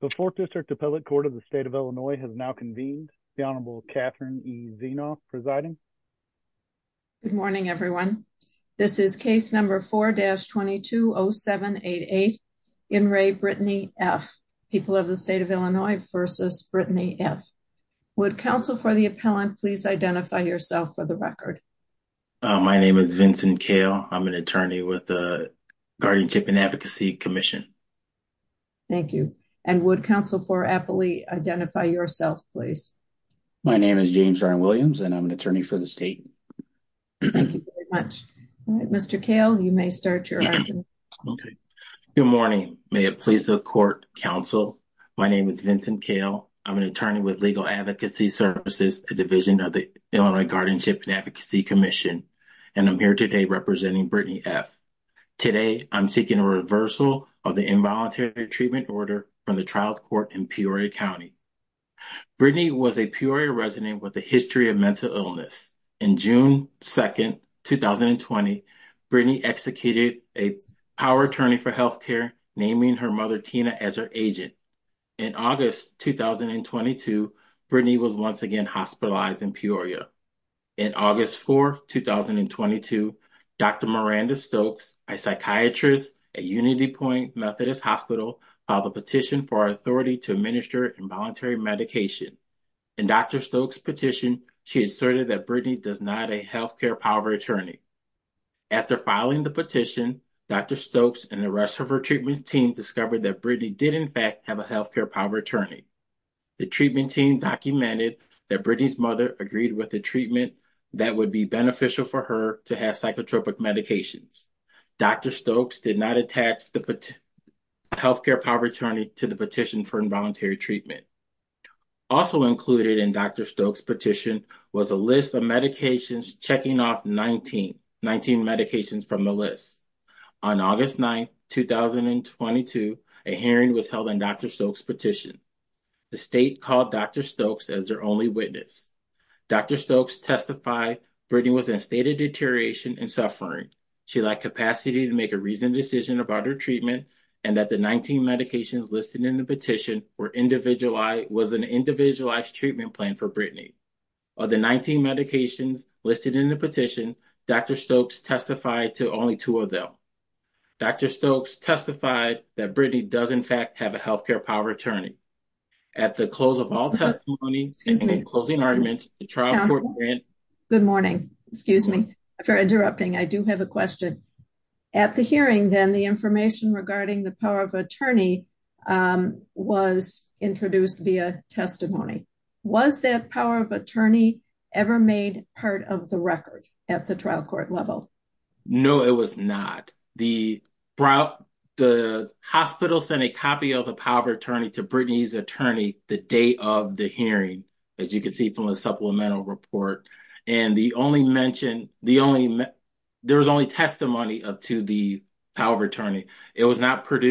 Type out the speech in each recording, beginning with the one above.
The 4th District Appellate Court of the State of Illinois has now convened. The Honorable Catherine E. Zinoff presiding. Good morning, everyone. This is case number 4-220788. In Ray Brittany F. People of the State of Illinois versus Brittany F. Would counsel for the appellant please identify yourself for the record. My name is Vincent Kale. I'm an attorney with the Guardianship and Advocacy Commission. Thank you. And would counsel for appellee identify yourself, please. My name is James Williams, and I'm an attorney for the state. Thank you very much. Mr. Kale, you may start your argument. Good morning. May it please the court counsel. My name is Vincent Kale. I'm an attorney with Legal Advocacy Services, a division of the Illinois Guardianship and Advocacy Commission, and I'm here today representing Brittany F. Today, I'm seeking a reversal of the involuntary treatment order from the trial court in Peoria County. Brittany was a Peoria resident with a history of mental illness. In June 2nd, 2020, Brittany executed a power attorney for health care, naming her mother Tina as her agent. In August 2022, Brittany was once again hospitalized in Peoria. In August 4th, 2022, Dr. Miranda Stokes, a psychiatrist at UnityPoint Methodist Hospital, filed a petition for authority to administer involuntary medication. In Dr. Stokes' petition, she asserted that Brittany does not a health care power attorney. After filing the petition, Dr. Stokes and the rest of her treatment team discovered that Brittany did, in fact, have a health care power attorney. The treatment team documented that Brittany's mother agreed with the treatment that would be beneficial for her to have psychotropic medications. Dr. Stokes did not attach the health care power attorney to the petition for involuntary treatment. Also included in Dr. Stokes' petition was a list of medications checking off 19 medications from the list. On August 9th, 2022, a hearing was held on Dr. Stokes' petition. The state called Dr. Stokes as their only witness. Dr. Stokes testified Brittany was in a state of deterioration and suffering. She lacked capacity to make a reasoned decision about her treatment and that the 19 medications listed in the petition was an individualized treatment plan for Brittany. Of the 19 medications listed in the petition, Dr. Stokes testified to only two of them. Dr. Stokes testified that Brittany does, in fact, have a health care power attorney. At the close of all testimony, and in the closing arguments, the trial court... Good morning. Excuse me for interrupting. I do have a question. At the hearing, then, the information regarding the power of attorney was introduced via testimony. Was that power of attorney ever made part of the record at the trial court level? No, it was not. The hospital sent a copy of the power of attorney to Brittany's attorney the day of the hearing, as you can see from the supplemental report. And the only mention, there was only testimony to the power of attorney. Let me ask, oh,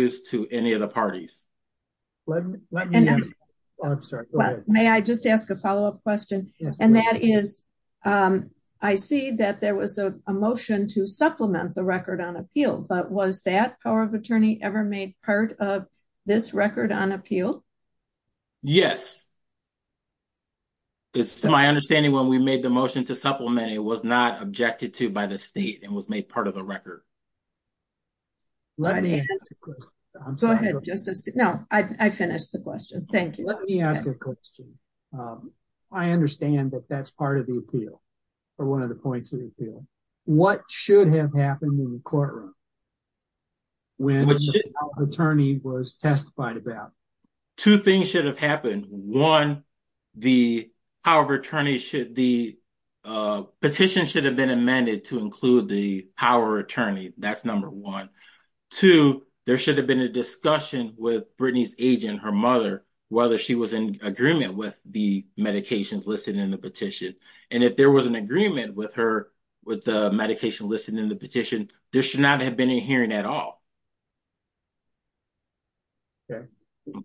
I'm sorry. May I just ask a follow-up question? And that is, I see that there was a motion to supplement the record on appeal, but was that power of attorney ever made part of this record on appeal? Yes, it's my understanding when we made the motion to supplement, it was not objected to by the state and was made part of the record. Go ahead, Justice. No, I finished the question. Thank you. Let me ask a question. I understand that that's part of the appeal, or one of the points of the appeal. What should have happened in the courtroom when the power of attorney was testified about? Two things should have happened. One, the power of attorney should, the petition should have been amended to include the power of attorney. That's number one. Two, there should have been a discussion with Brittany's agent, her mother, whether she was in agreement with the medications listed in the petition. And if there was an agreement with her, with the medication listed in the petition, there should not have been a hearing at all. Okay.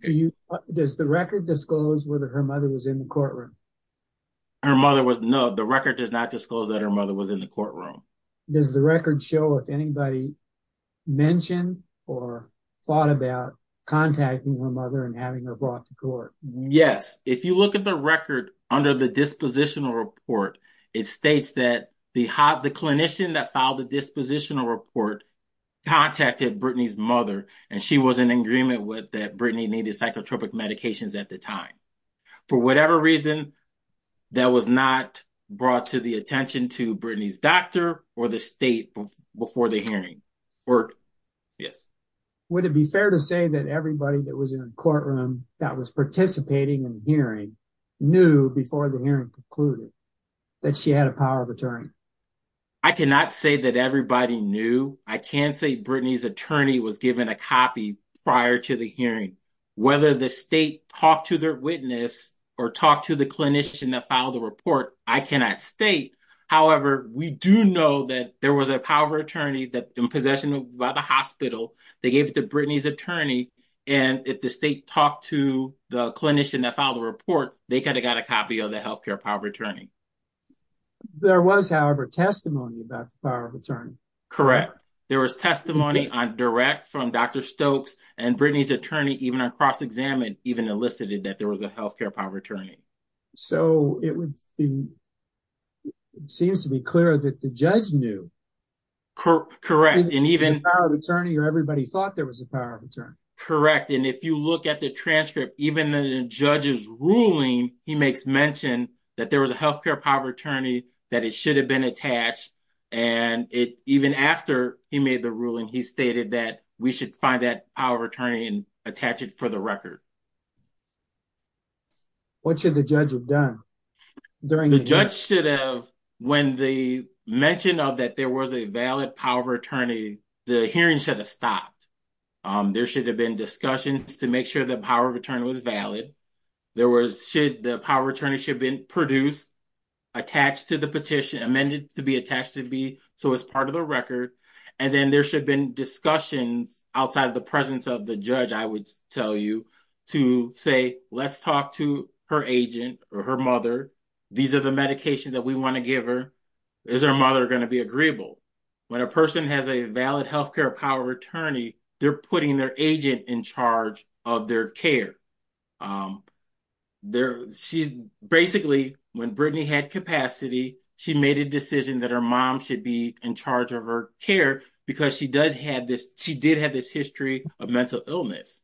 Do you, does the record disclose whether her mother was in the courtroom? Her mother was, no, the record does not disclose that her mother was in the courtroom. Does the record show if anybody mentioned or thought about contacting her mother and having her brought to court? Yes. If you look at the record under the dispositional report, it states that the clinician that filed the dispositional report contacted Brittany's mother, and she was in agreement with that Brittany needed psychotropic medications at the time. For whatever reason, that was not brought to the attention to Brittany's doctor or the state before the hearing. Would it be fair to say that everybody that was in a courtroom that was participating in the hearing knew before the hearing concluded that she had a power of attorney? I cannot say that everybody knew. I can say Brittany's attorney was given a copy prior to the hearing. Whether the state talked to their witness or talked to the clinician that filed the report, I cannot state. However, we do know that there was a power of attorney in possession by the hospital. They gave it to Brittany's attorney, and if the state talked to the clinician that filed the report, they could have got a copy of the health care power of attorney. There was, however, testimony about the power of attorney. Correct. There was testimony direct from Dr. Stokes, and Brittany's attorney, even on cross-examination, even elicited that there was a health care power of attorney. It seems to be clear that the judge knew. Correct. There was a power of attorney, or everybody thought there was a power of attorney. Correct. If you look at the transcript, even in the judge's ruling, he makes mention that there was a health care power of attorney, that it should have been attached. Even after he made the ruling, he stated that we should find that power of attorney and attach it for the record. What should the judge have done? The judge should have, when they mentioned that there was a valid power of attorney, the hearing should have stopped. There should have been discussions to make sure the power of attorney was valid. The power of attorney should have been produced, attached to the petition, amended to be attached to be so as part of the record. Then there should have been discussions outside the presence of the judge, I would tell you, to say, let's talk to her agent or her mother. These are the medications that we want to give her. Is her mother going to be agreeable? When a person has a valid health care power of attorney, they're putting their agent in charge of their care. Basically, when Brittany had capacity, she made a decision that her mom should be in charge of her care because she did have this history of mental illness.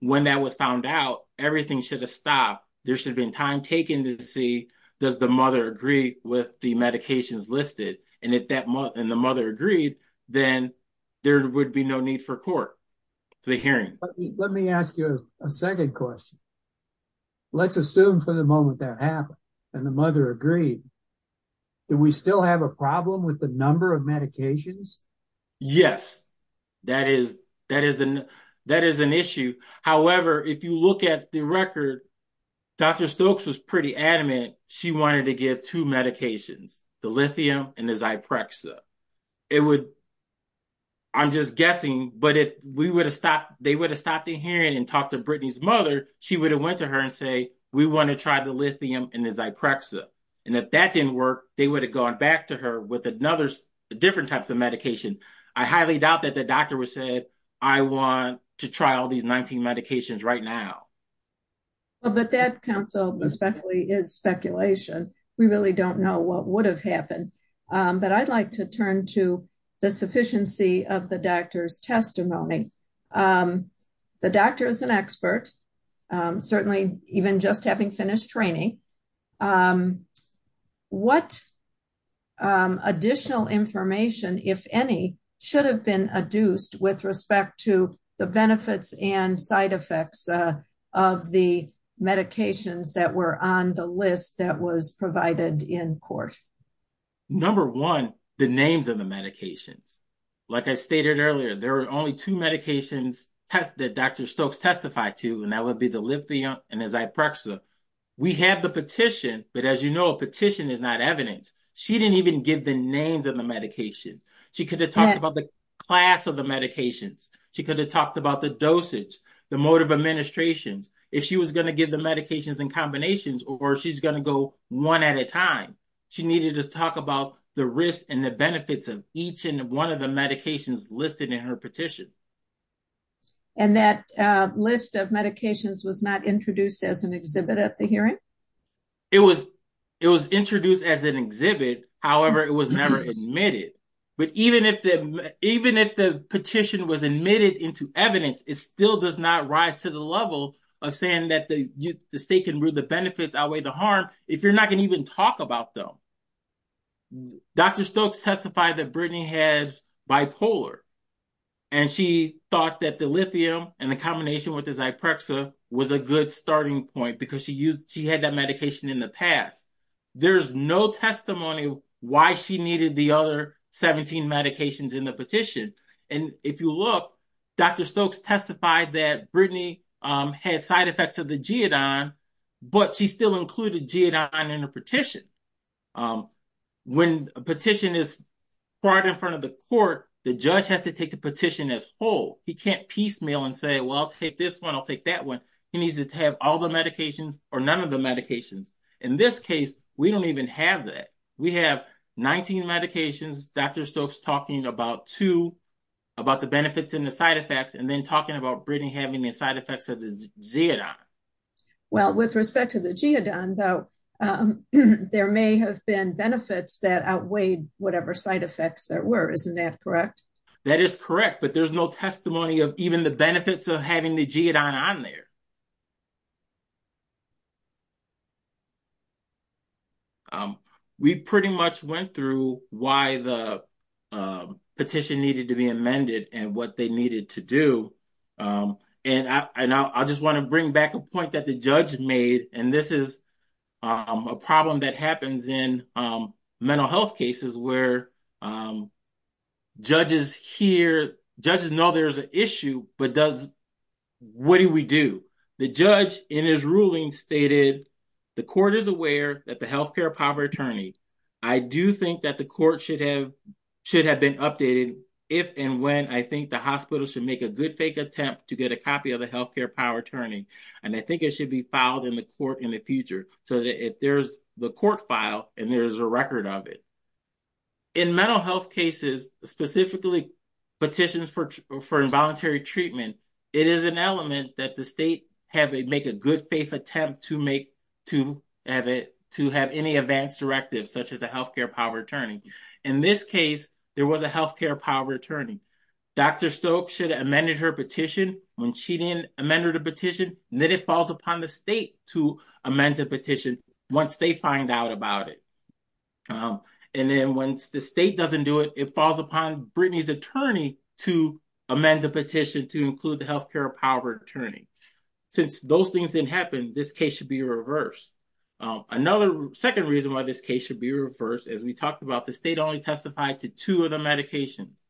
When that was found out, everything should have stopped. There should have been time taken to see, does the mother agree with the medications listed? If the mother agreed, then there would be no need for court for the hearing. Let me ask you a second question. Let's assume for the moment that happened and the mother agreed. Do we still have a problem with the number of medications? Yes, that is an issue. However, if you look at the record, Dr. Stokes was pretty adamant she wanted to give two medications, the lithium and the Zyprexa. I'm just guessing, but if they would have stopped the hearing and talked to Brittany's mother, she would have went to her and said, we want to try the lithium and the Zyprexa. And if that didn't work, they would have gone back to her with different types of medication. I highly doubt that the doctor would have said, I want to try all these 19 medications right now. But that, counsel, is speculation. We really don't know what would have happened. But I'd like to turn to the sufficiency of the doctor's testimony. The doctor is an expert, certainly even just having finished training. What additional information, if any, should have been adduced with respect to the benefits and side effects of the medications that were on the list that was provided in court? Number one, the names of the medications. Like I stated earlier, there are only two medications that Dr. Stokes testified to, and that would be the lithium and the Zyprexa. We have the petition, but as you know, a petition is not evidence. She didn't even give the names of the medication. She could have talked about the class of the medications. She could have talked about the dosage, the mode of administration. If she was going to give the medications in combinations or she's going to go one at a time, she needed to talk about the risks and the benefits of each and one of the medications listed in her petition. And that list of medications was not introduced as an exhibit at the hearing? It was introduced as an exhibit. However, it was never admitted. But even if the petition was admitted into evidence, it still does not rise to the level of saying that the state can rule the benefits outweigh the harm if you're not going to even talk about them. Dr. Stokes testified that Brittany has bipolar, and she thought that the lithium and the combination with the Zyprexa was a good starting point because she had that medication in the past. There's no testimony why she needed the other 17 medications in the petition. And if you look, Dr. Stokes testified that Brittany had side effects of the geodine, but she still included geodine in the petition. When a petition is brought in front of the court, the judge has to take the petition as whole. He can't piecemeal and say, well, I'll take this one, I'll take that one. He needs to have all the medications or none of the medications. In this case, we don't even have that. We have 19 medications. Dr. Stokes talking about two, about the benefits and the side effects, and then talking about Brittany having the side effects of the geodine. Well, with respect to the geodine, though, there may have been benefits that outweighed whatever side effects there were. Isn't that correct? That is correct. But there's no testimony of even the benefits of having the geodine on there. We pretty much went through why the petition needed to be amended and what they needed to do. And I just want to bring back a point that the judge made. And this is a problem that happens in mental health cases where judges hear, judges know there's an issue, but what do we do? The judge in his ruling stated the court is aware that the health care power attorney. I do think that the court should have been updated if and when I think the hospital should make a good fake attempt to get a copy of the health care power attorney. And I think it should be filed in the court in the future so that if there's the court file and there's a record of it. In mental health cases, specifically petitions for involuntary treatment, it is an element that the state have to make a good faith attempt to make, to have it, to have any advanced directives such as the health care power attorney. In this case, there was a health care power attorney. Dr. Stokes should have amended her petition when she didn't amend her petition. And then it falls upon the state to amend the petition once they find out about it. And then when the state doesn't do it, it falls upon Brittany's attorney to amend the petition to include the health care power attorney. Since those things didn't happen, this case should be reversed. Another second reason why this case should be reversed, as we talked about, the state only testified to two of the medications.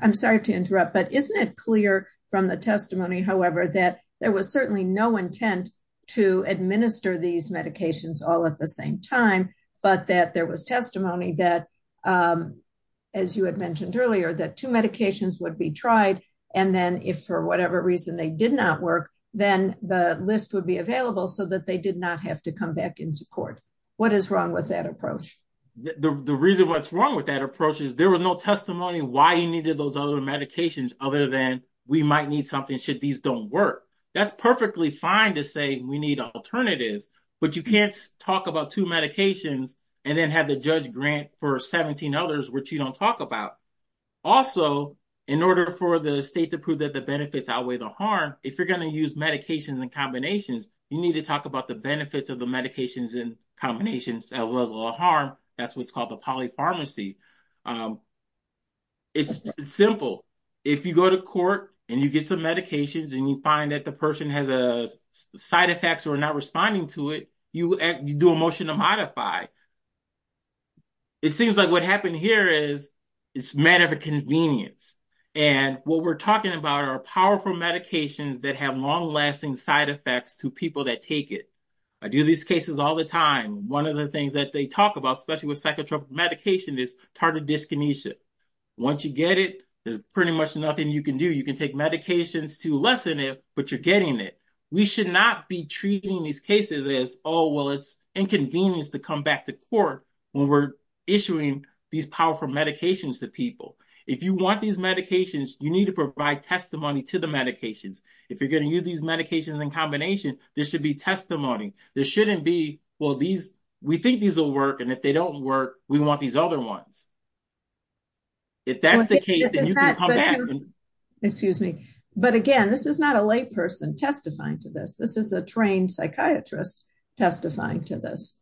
I'm sorry to interrupt, but isn't it clear from the testimony, however, that there was certainly no intent to administer these medications all at the same time, but that there was testimony that, as you had mentioned earlier, that two medications would be tried. And then if for whatever reason they did not work, then the list would be available so that they did not have to come back into court. What is wrong with that approach? The reason what's wrong with that approach is there was no testimony why you needed those other medications other than we might need something should these don't work. That's perfectly fine to say we need alternatives, but you can't talk about two medications and then have the judge grant for 17 others, which you don't talk about. Also, in order for the state to prove that the benefits outweigh the harm, if you're going to use medications and combinations, you need to talk about the benefits of the medications and combinations as well as the harm. That's what's called the polypharmacy. It's simple. If you go to court and you get some medications and you find that the person has a side effects or not responding to it, you do a motion to modify. It seems like what happened here is it's a matter of convenience. And what we're talking about are powerful medications that have long-lasting side effects to people that take it. I do these cases all the time. One of the things that they talk about, especially with psychotropic medication, is tardive dyskinesia. Once you get it, there's pretty much nothing you can do. You can take medications to lessen it, but you're getting it. We should not be treating these cases as, oh, well, it's inconvenient to come back to court when we're issuing these powerful medications to people. If you want these medications, you need to provide testimony to the medications. If you're going to use these medications in combination, there should be testimony. There shouldn't be, well, we think these will work, and if they don't work, we want these other ones. If that's the case, then you can come back. Excuse me. But, again, this is not a layperson testifying to this. This is a trained psychiatrist testifying to this.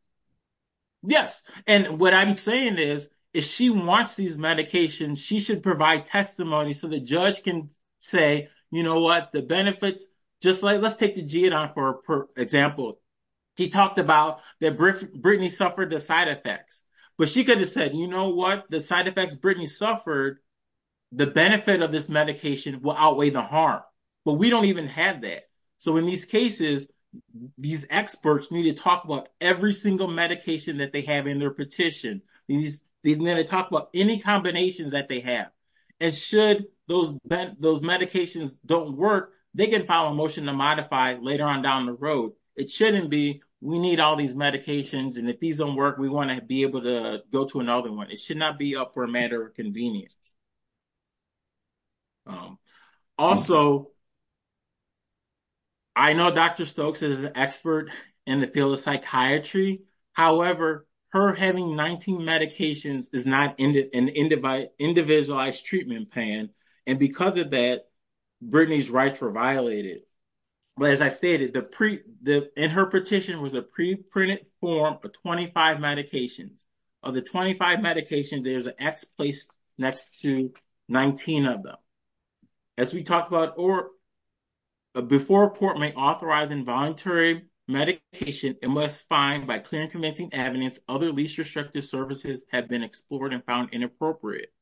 Yes. And what I'm saying is if she wants these medications, she should provide testimony so the judge can say, you know what, the benefits. Just like let's take the G&R for example. She talked about that Brittany suffered the side effects, but she could have said, you know what, the side effects Brittany suffered, the benefit of this medication will outweigh the harm. But we don't even have that. So in these cases, these experts need to talk about every single medication that they have in their petition. They need to talk about any combinations that they have. And should those medications don't work, they can file a motion to modify later on down the road. So it shouldn't be we need all these medications, and if these don't work, we want to be able to go to another one. It should not be up for a matter of convenience. Also, I know Dr. Stokes is an expert in the field of psychiatry. However, her having 19 medications is not an individualized treatment plan, and because of that, Brittany's rights were violated. But as I stated, in her petition was a pre-printed form for 25 medications. Of the 25 medications, there's an X placed next to 19 of them. As we talked about, before a court may authorize involuntary medication, it must find by clear and convincing evidence other least restrictive services have been explored and found inappropriate.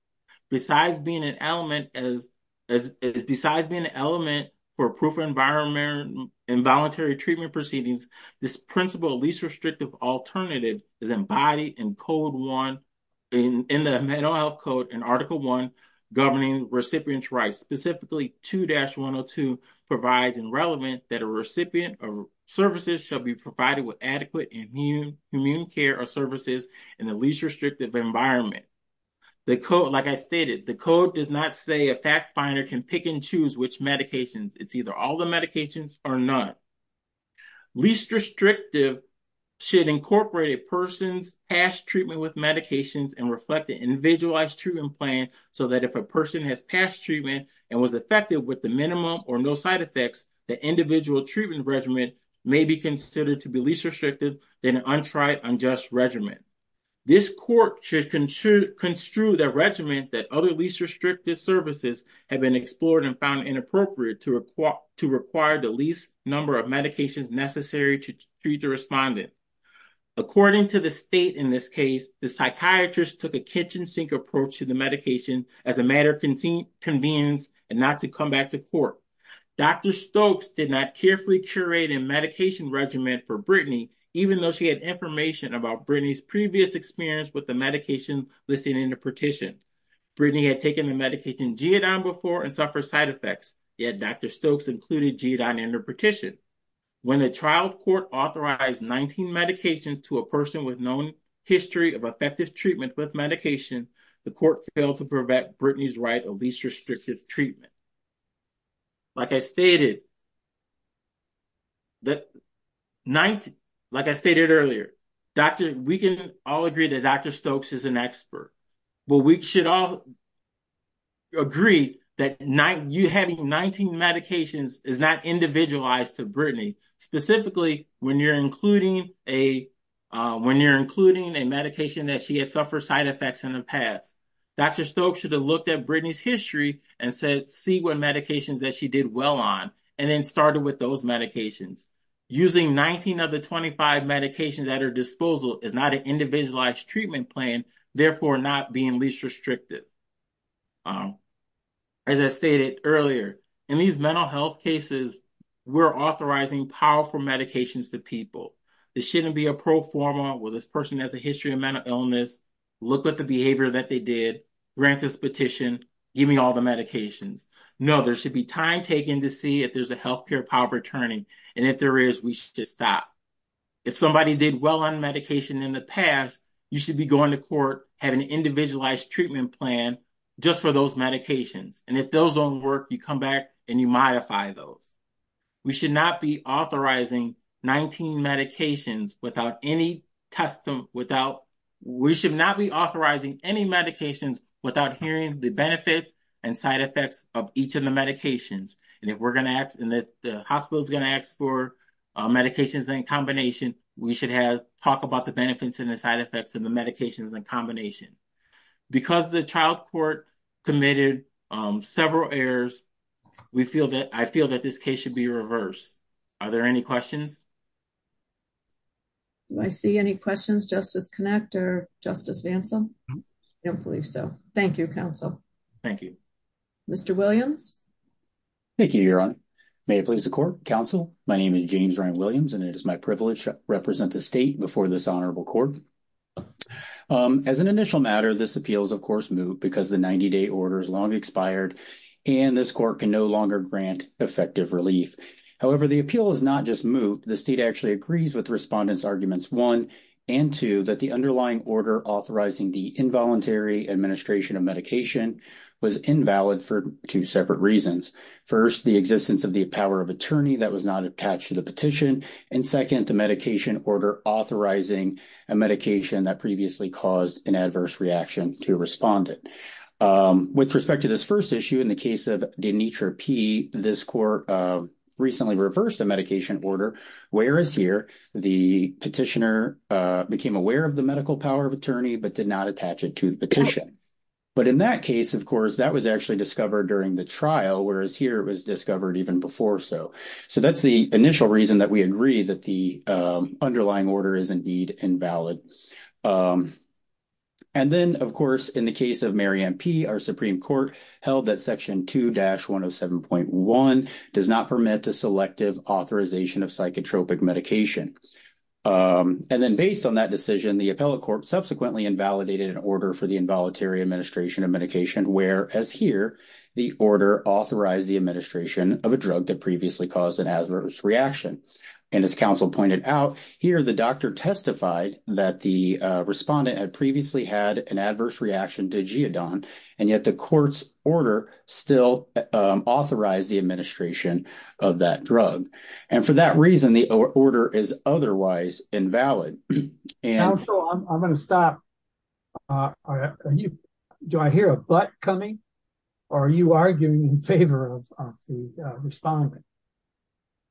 Besides being an element for proof of environmental involuntary treatment proceedings, this principle of least restrictive alternative is embodied in Code 1, in the Mental Health Code in Article 1, governing recipient's rights. Specifically, 2-102 provides and relevant that a recipient of services shall be provided with adequate immune care or services in the least restrictive environment. Like I stated, the Code does not say a fact finder can pick and choose which medications. It's either all the medications or none. Least restrictive should incorporate a person's past treatment with medications and reflect the individualized treatment plan so that if a person has past treatment and was effective with the minimum or no side effects, the individual treatment regimen may be considered to be least restrictive than an untried, unjust regimen. This court should construe the regimen that other least restrictive services have been explored and found inappropriate to require the least number of medications necessary to treat the respondent. According to the state in this case, the psychiatrist took a kitchen sink approach to the medication as a matter of convenience and not to come back to court. Dr. Stokes did not carefully curate a medication regimen for Brittany, even though she had information about Brittany's previous experience with the medication listed in the petition. Brittany had taken the medication Geodon before and suffered side effects, yet Dr. Stokes included Geodon in her petition. When the trial court authorized 19 medications to a person with known history of effective treatment with medication, the court failed to prevent Brittany's right of least restrictive treatment. Like I stated, like I stated earlier, we can all agree that Dr. Stokes is an expert. But we should all agree that you having 19 medications is not individualized to Brittany, specifically when you're including a medication that she had suffered side effects in the past. Dr. Stokes should have looked at Brittany's history and said, see what medications that she did well on, and then started with those medications. Using 19 of the 25 medications at her disposal is not an individualized treatment plan, therefore not being least restrictive. As I stated earlier, in these mental health cases, we're authorizing powerful medications to people. This shouldn't be a pro forma, well, this person has a history of mental illness, look at the behavior that they did, grant this petition, give me all the medications. No, there should be time taken to see if there's a healthcare power of attorney, and if there is, we should just stop. If somebody did well on medication in the past, you should be going to court, have an individualized treatment plan just for those medications. And if those don't work, you come back and you modify those. We should not be authorizing any medications without hearing the benefits and side effects of each of the medications. And if the hospital is going to ask for medications in combination, we should talk about the benefits and the side effects of the medications in combination. Because the child court committed several errors, I feel that this case should be reversed. Are there any questions? Do I see any questions, Justice Connect or Justice Vansel? I don't believe so. Thank you, counsel. Thank you. Mr. Williams? Thank you, Your Honor. May it please the court, counsel. My name is James Ryan Williams, and it is my privilege to represent the state before this honorable court. As an initial matter, this appeal is, of course, moot because the 90-day order is long expired, and this court can no longer grant effective relief. However, the appeal is not just moot. The state actually agrees with respondents' arguments 1 and 2 that the underlying order authorizing the involuntary administration of medication was invalid for two separate reasons. First, the existence of the power of attorney that was not attached to the petition. And second, the medication order authorizing a medication that previously caused an adverse reaction to a respondent. With respect to this first issue, in the case of Denitra P., this court recently reversed the medication order. Whereas here, the petitioner became aware of the medical power of attorney but did not attach it to the petition. But in that case, of course, that was actually discovered during the trial, whereas here it was discovered even before so. So that's the initial reason that we agree that the underlying order is indeed invalid. And then, of course, in the case of Mary Ann P., our Supreme Court held that Section 2-107.1 does not permit the selective authorization of psychotropic medication. And then based on that decision, the appellate court subsequently invalidated an order for the involuntary administration of medication, whereas here, the order authorized the administration of a drug that previously caused an adverse reaction. And as counsel pointed out, here the doctor testified that the respondent had previously had an adverse reaction to Geodon, and yet the court's order still authorized the administration of that drug. And for that reason, the order is otherwise invalid. I'm going to stop. Do I hear a but coming, or are you arguing in favor of the respondent?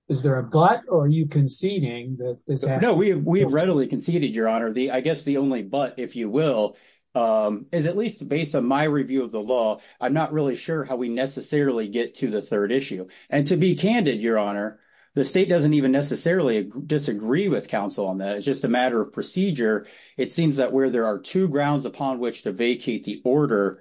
Is there a but, or are you conceding? No, we readily conceded, Your Honor. I guess the only but, if you will, is at least based on my review of the law, I'm not really sure how we necessarily get to the third issue. And to be candid, Your Honor, the state doesn't even necessarily disagree with counsel on that. It's just a matter of procedure. It seems that where there are two grounds upon which to vacate the order,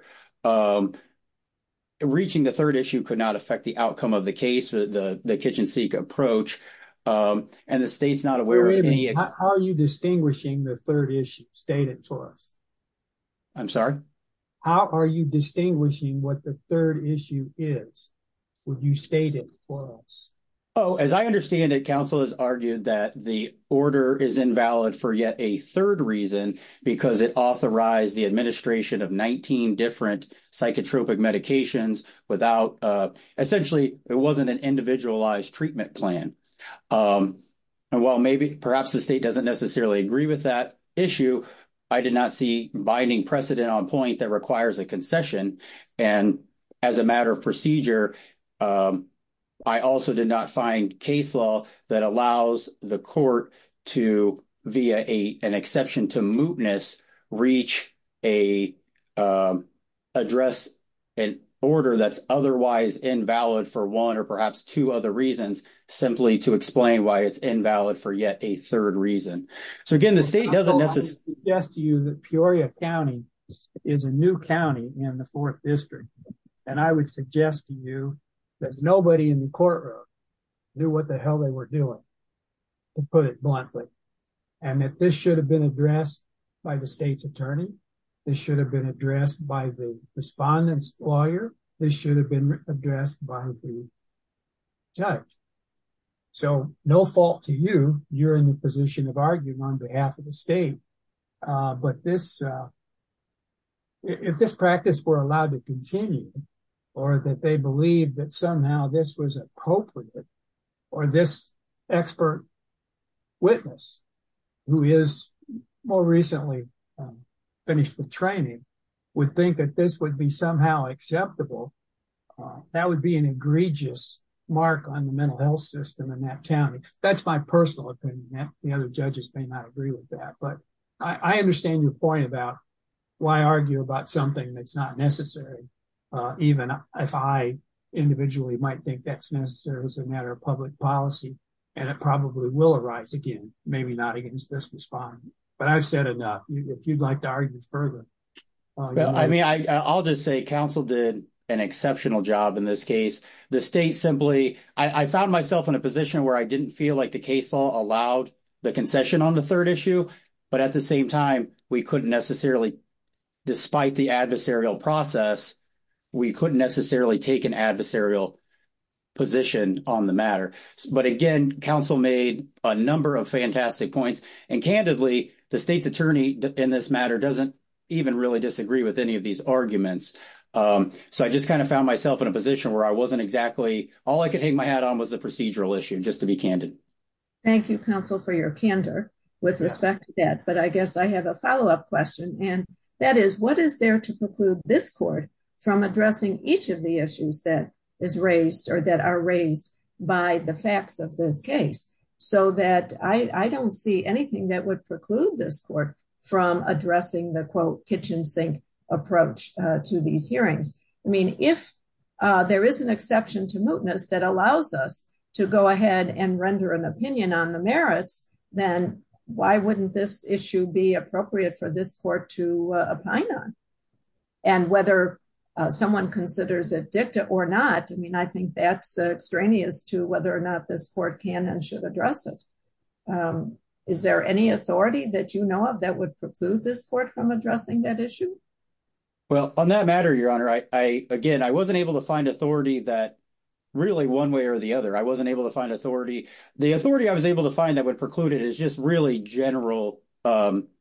reaching the third issue could not affect the outcome of the case, the kitchen-seek approach, and the state's not aware of any – Wait a minute. How are you distinguishing the third issue stated to us? I'm sorry? How are you distinguishing what the third issue is when you state it for us? Oh, as I understand it, counsel has argued that the order is invalid for yet a third reason, because it authorized the administration of 19 different psychotropic medications without – essentially, it wasn't an individualized treatment plan. And while maybe – perhaps the state doesn't necessarily agree with that issue, I did not see binding precedent on point that requires a concession. And as a matter of procedure, I also did not find case law that allows the court to, via an exception to mootness, reach a – address an order that's otherwise invalid for one or perhaps two other reasons, simply to explain why it's invalid for yet a third reason. So, again, the state doesn't necessarily – I would suggest to you that Peoria County is a new county in the 4th District. And I would suggest to you that nobody in the courtroom knew what the hell they were doing, to put it bluntly. And that this should have been addressed by the state's attorney. This should have been addressed by the respondent's lawyer. This should have been addressed by the judge. So, no fault to you. You're in the position of arguing on behalf of the state. But this – if this practice were allowed to continue, or that they believed that somehow this was appropriate, or this expert witness, who is more recently finished with training, would think that this would be somehow acceptable, that would be an egregious mark on the mental health system in that county. That's my personal opinion. The other judges may not agree with that. But I understand your point about why argue about something that's not necessary, even if I individually might think that's necessary as a matter of public policy. And it probably will arise again, maybe not against this respondent. But I've said enough. If you'd like to argue further. I mean, I'll just say council did an exceptional job in this case. The state simply – I found myself in a position where I didn't feel like the case law allowed the concession on the third issue. But at the same time, we couldn't necessarily – despite the adversarial process, we couldn't necessarily take an adversarial position on the matter. But again, council made a number of fantastic points. And candidly, the state's attorney in this matter doesn't even really disagree with any of these arguments. So, I just kind of found myself in a position where I wasn't exactly – all I could hang my hat on was the procedural issue, just to be candid. Thank you, council, for your candor with respect to that. But I guess I have a follow-up question. And that is, what is there to preclude this court from addressing each of the issues that is raised or that are raised by the facts of this case? So that I don't see anything that would preclude this court from addressing the, quote, kitchen sink approach to these hearings. I mean, if there is an exception to mootness that allows us to go ahead and render an opinion on the merits, then why wouldn't this issue be appropriate for this court to opine on? And whether someone considers it dicta or not, I mean, I think that's extraneous to whether or not this court can and should address it. Is there any authority that you know of that would preclude this court from addressing that issue? Well, on that matter, Your Honor, I – again, I wasn't able to find authority that – really, one way or the other, I wasn't able to find authority. The authority I was able to find that would preclude it is just really general notions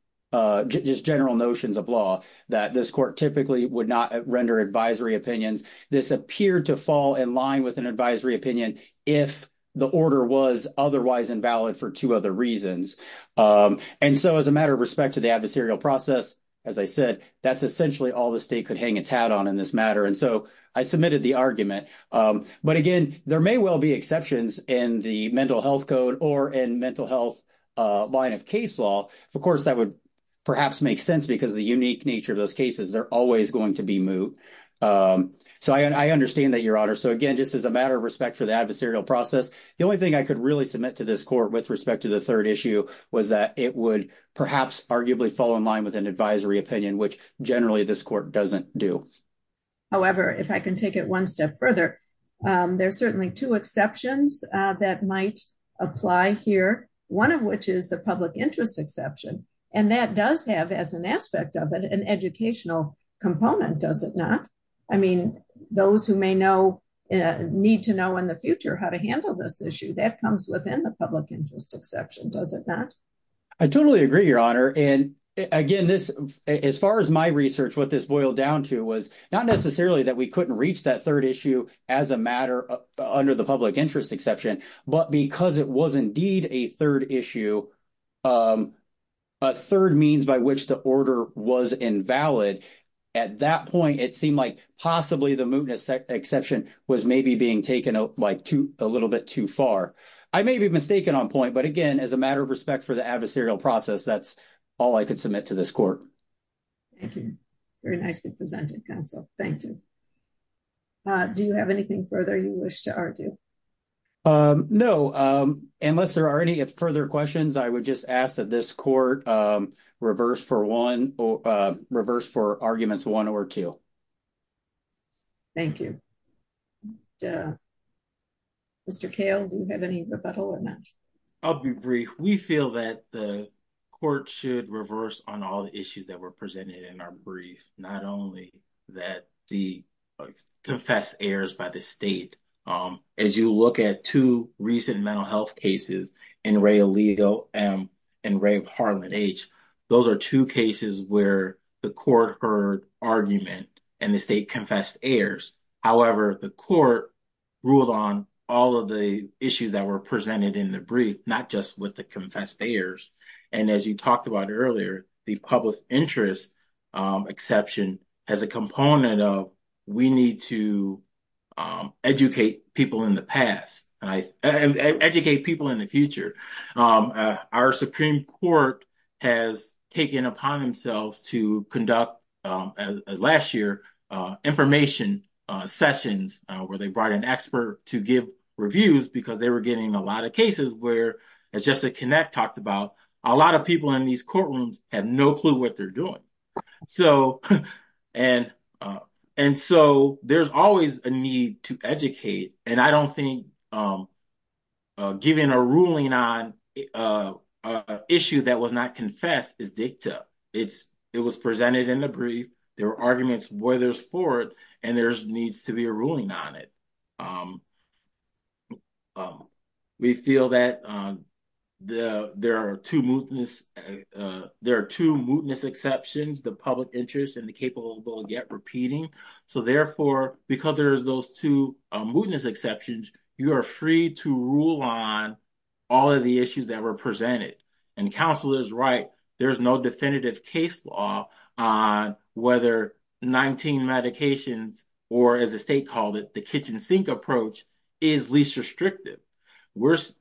of law that this court typically would not render advisory opinions. This appeared to fall in line with an advisory opinion if the order was otherwise invalid for two other reasons. And so as a matter of respect to the adversarial process, as I said, that's essentially all the state could hang its hat on in this matter. And so I submitted the argument. But, again, there may well be exceptions in the mental health code or in mental health line of case law. Of course, that would perhaps make sense because of the unique nature of those cases. They're always going to be moot. So I understand that, Your Honor. So, again, just as a matter of respect for the adversarial process, the only thing I could really submit to this court with respect to the third issue was that it would perhaps arguably fall in line with an advisory opinion, which generally this court doesn't do. However, if I can take it one step further, there are certainly two exceptions that might apply here, one of which is the public interest exception. And that does have, as an aspect of it, an educational component, does it not? I mean, those who may need to know in the future how to handle this issue, that comes within the public interest exception, does it not? I totally agree, Your Honor. And, again, as far as my research, what this boiled down to was not necessarily that we couldn't reach that third issue as a matter under the public interest exception, but because it was indeed a third issue, a third means by which the order was invalid. At that point, it seemed like possibly the mootness exception was maybe being taken, like, a little bit too far. I may be mistaken on point, but, again, as a matter of respect for the adversarial process, that's all I could submit to this court. Thank you. Very nicely presented, counsel. Thank you. Do you have anything further you wish to argue? No. Unless there are any further questions, I would just ask that this court reverse for one, reverse for arguments one or two. Thank you. Mr. Cale, do you have any rebuttal or not? I'll be brief. We feel that the court should reverse on all the issues that were presented in our brief, not only that the confessed errors by the state. As you look at two recent mental health cases, NREA-LEGO and RAVE-Harlan H., those are two cases where the court heard argument and the state confessed errors. However, the court ruled on all of the issues that were presented in the brief, not just with the confessed errors. And as you talked about earlier, the public interest exception has a component of we need to educate people in the past and educate people in the future. Our Supreme Court has taken upon themselves to conduct, last year, information sessions where they brought an expert to give reviews because they were getting a lot of cases where, as Jessica Knapp talked about, a lot of people in these courtrooms have no clue what they're doing. And so there's always a need to educate, and I don't think giving a ruling on an issue that was not confessed is dicta. It was presented in the brief. There were arguments where there's for it, and there needs to be a ruling on it. We feel that there are two mootness exceptions, the public interest and the capable of yet repeating. So therefore, because there's those two mootness exceptions, you are free to rule on all of the issues that were presented. And counsel is right. There's no definitive case law on whether 19 medications or, as the state called it, the kitchen sink approach is least restrictive.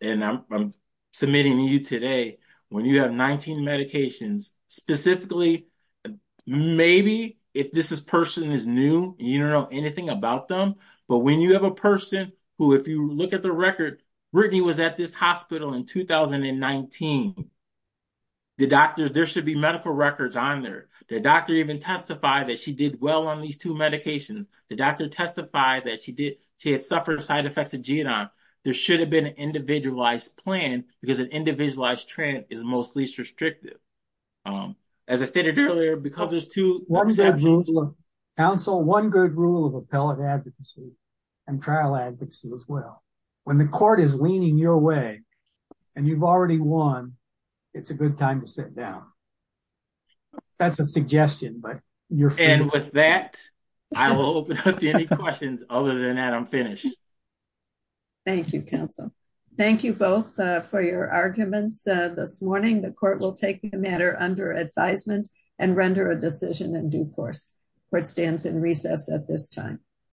And I'm submitting to you today, when you have 19 medications, specifically, maybe if this person is new, you don't know anything about them. But when you have a person who, if you look at the record, Brittany was at this hospital in 2019. The doctors, there should be medical records on there. The doctor even testified that she did well on these two medications. The doctor testified that she had suffered side effects of Genome. There should have been an individualized plan because an individualized trend is most least restrictive. As I stated earlier, because there's two exceptions. Counsel, one good rule of appellate advocacy and trial advocacy as well. When the court is leaning your way and you've already won, it's a good time to sit down. That's a suggestion, but you're free. And with that, I will open up to any questions. Other than that, I'm finished. Thank you, counsel. Thank you both for your arguments this morning. The court will take the matter under advisement and render a decision in due course. Court stands in recess at this time.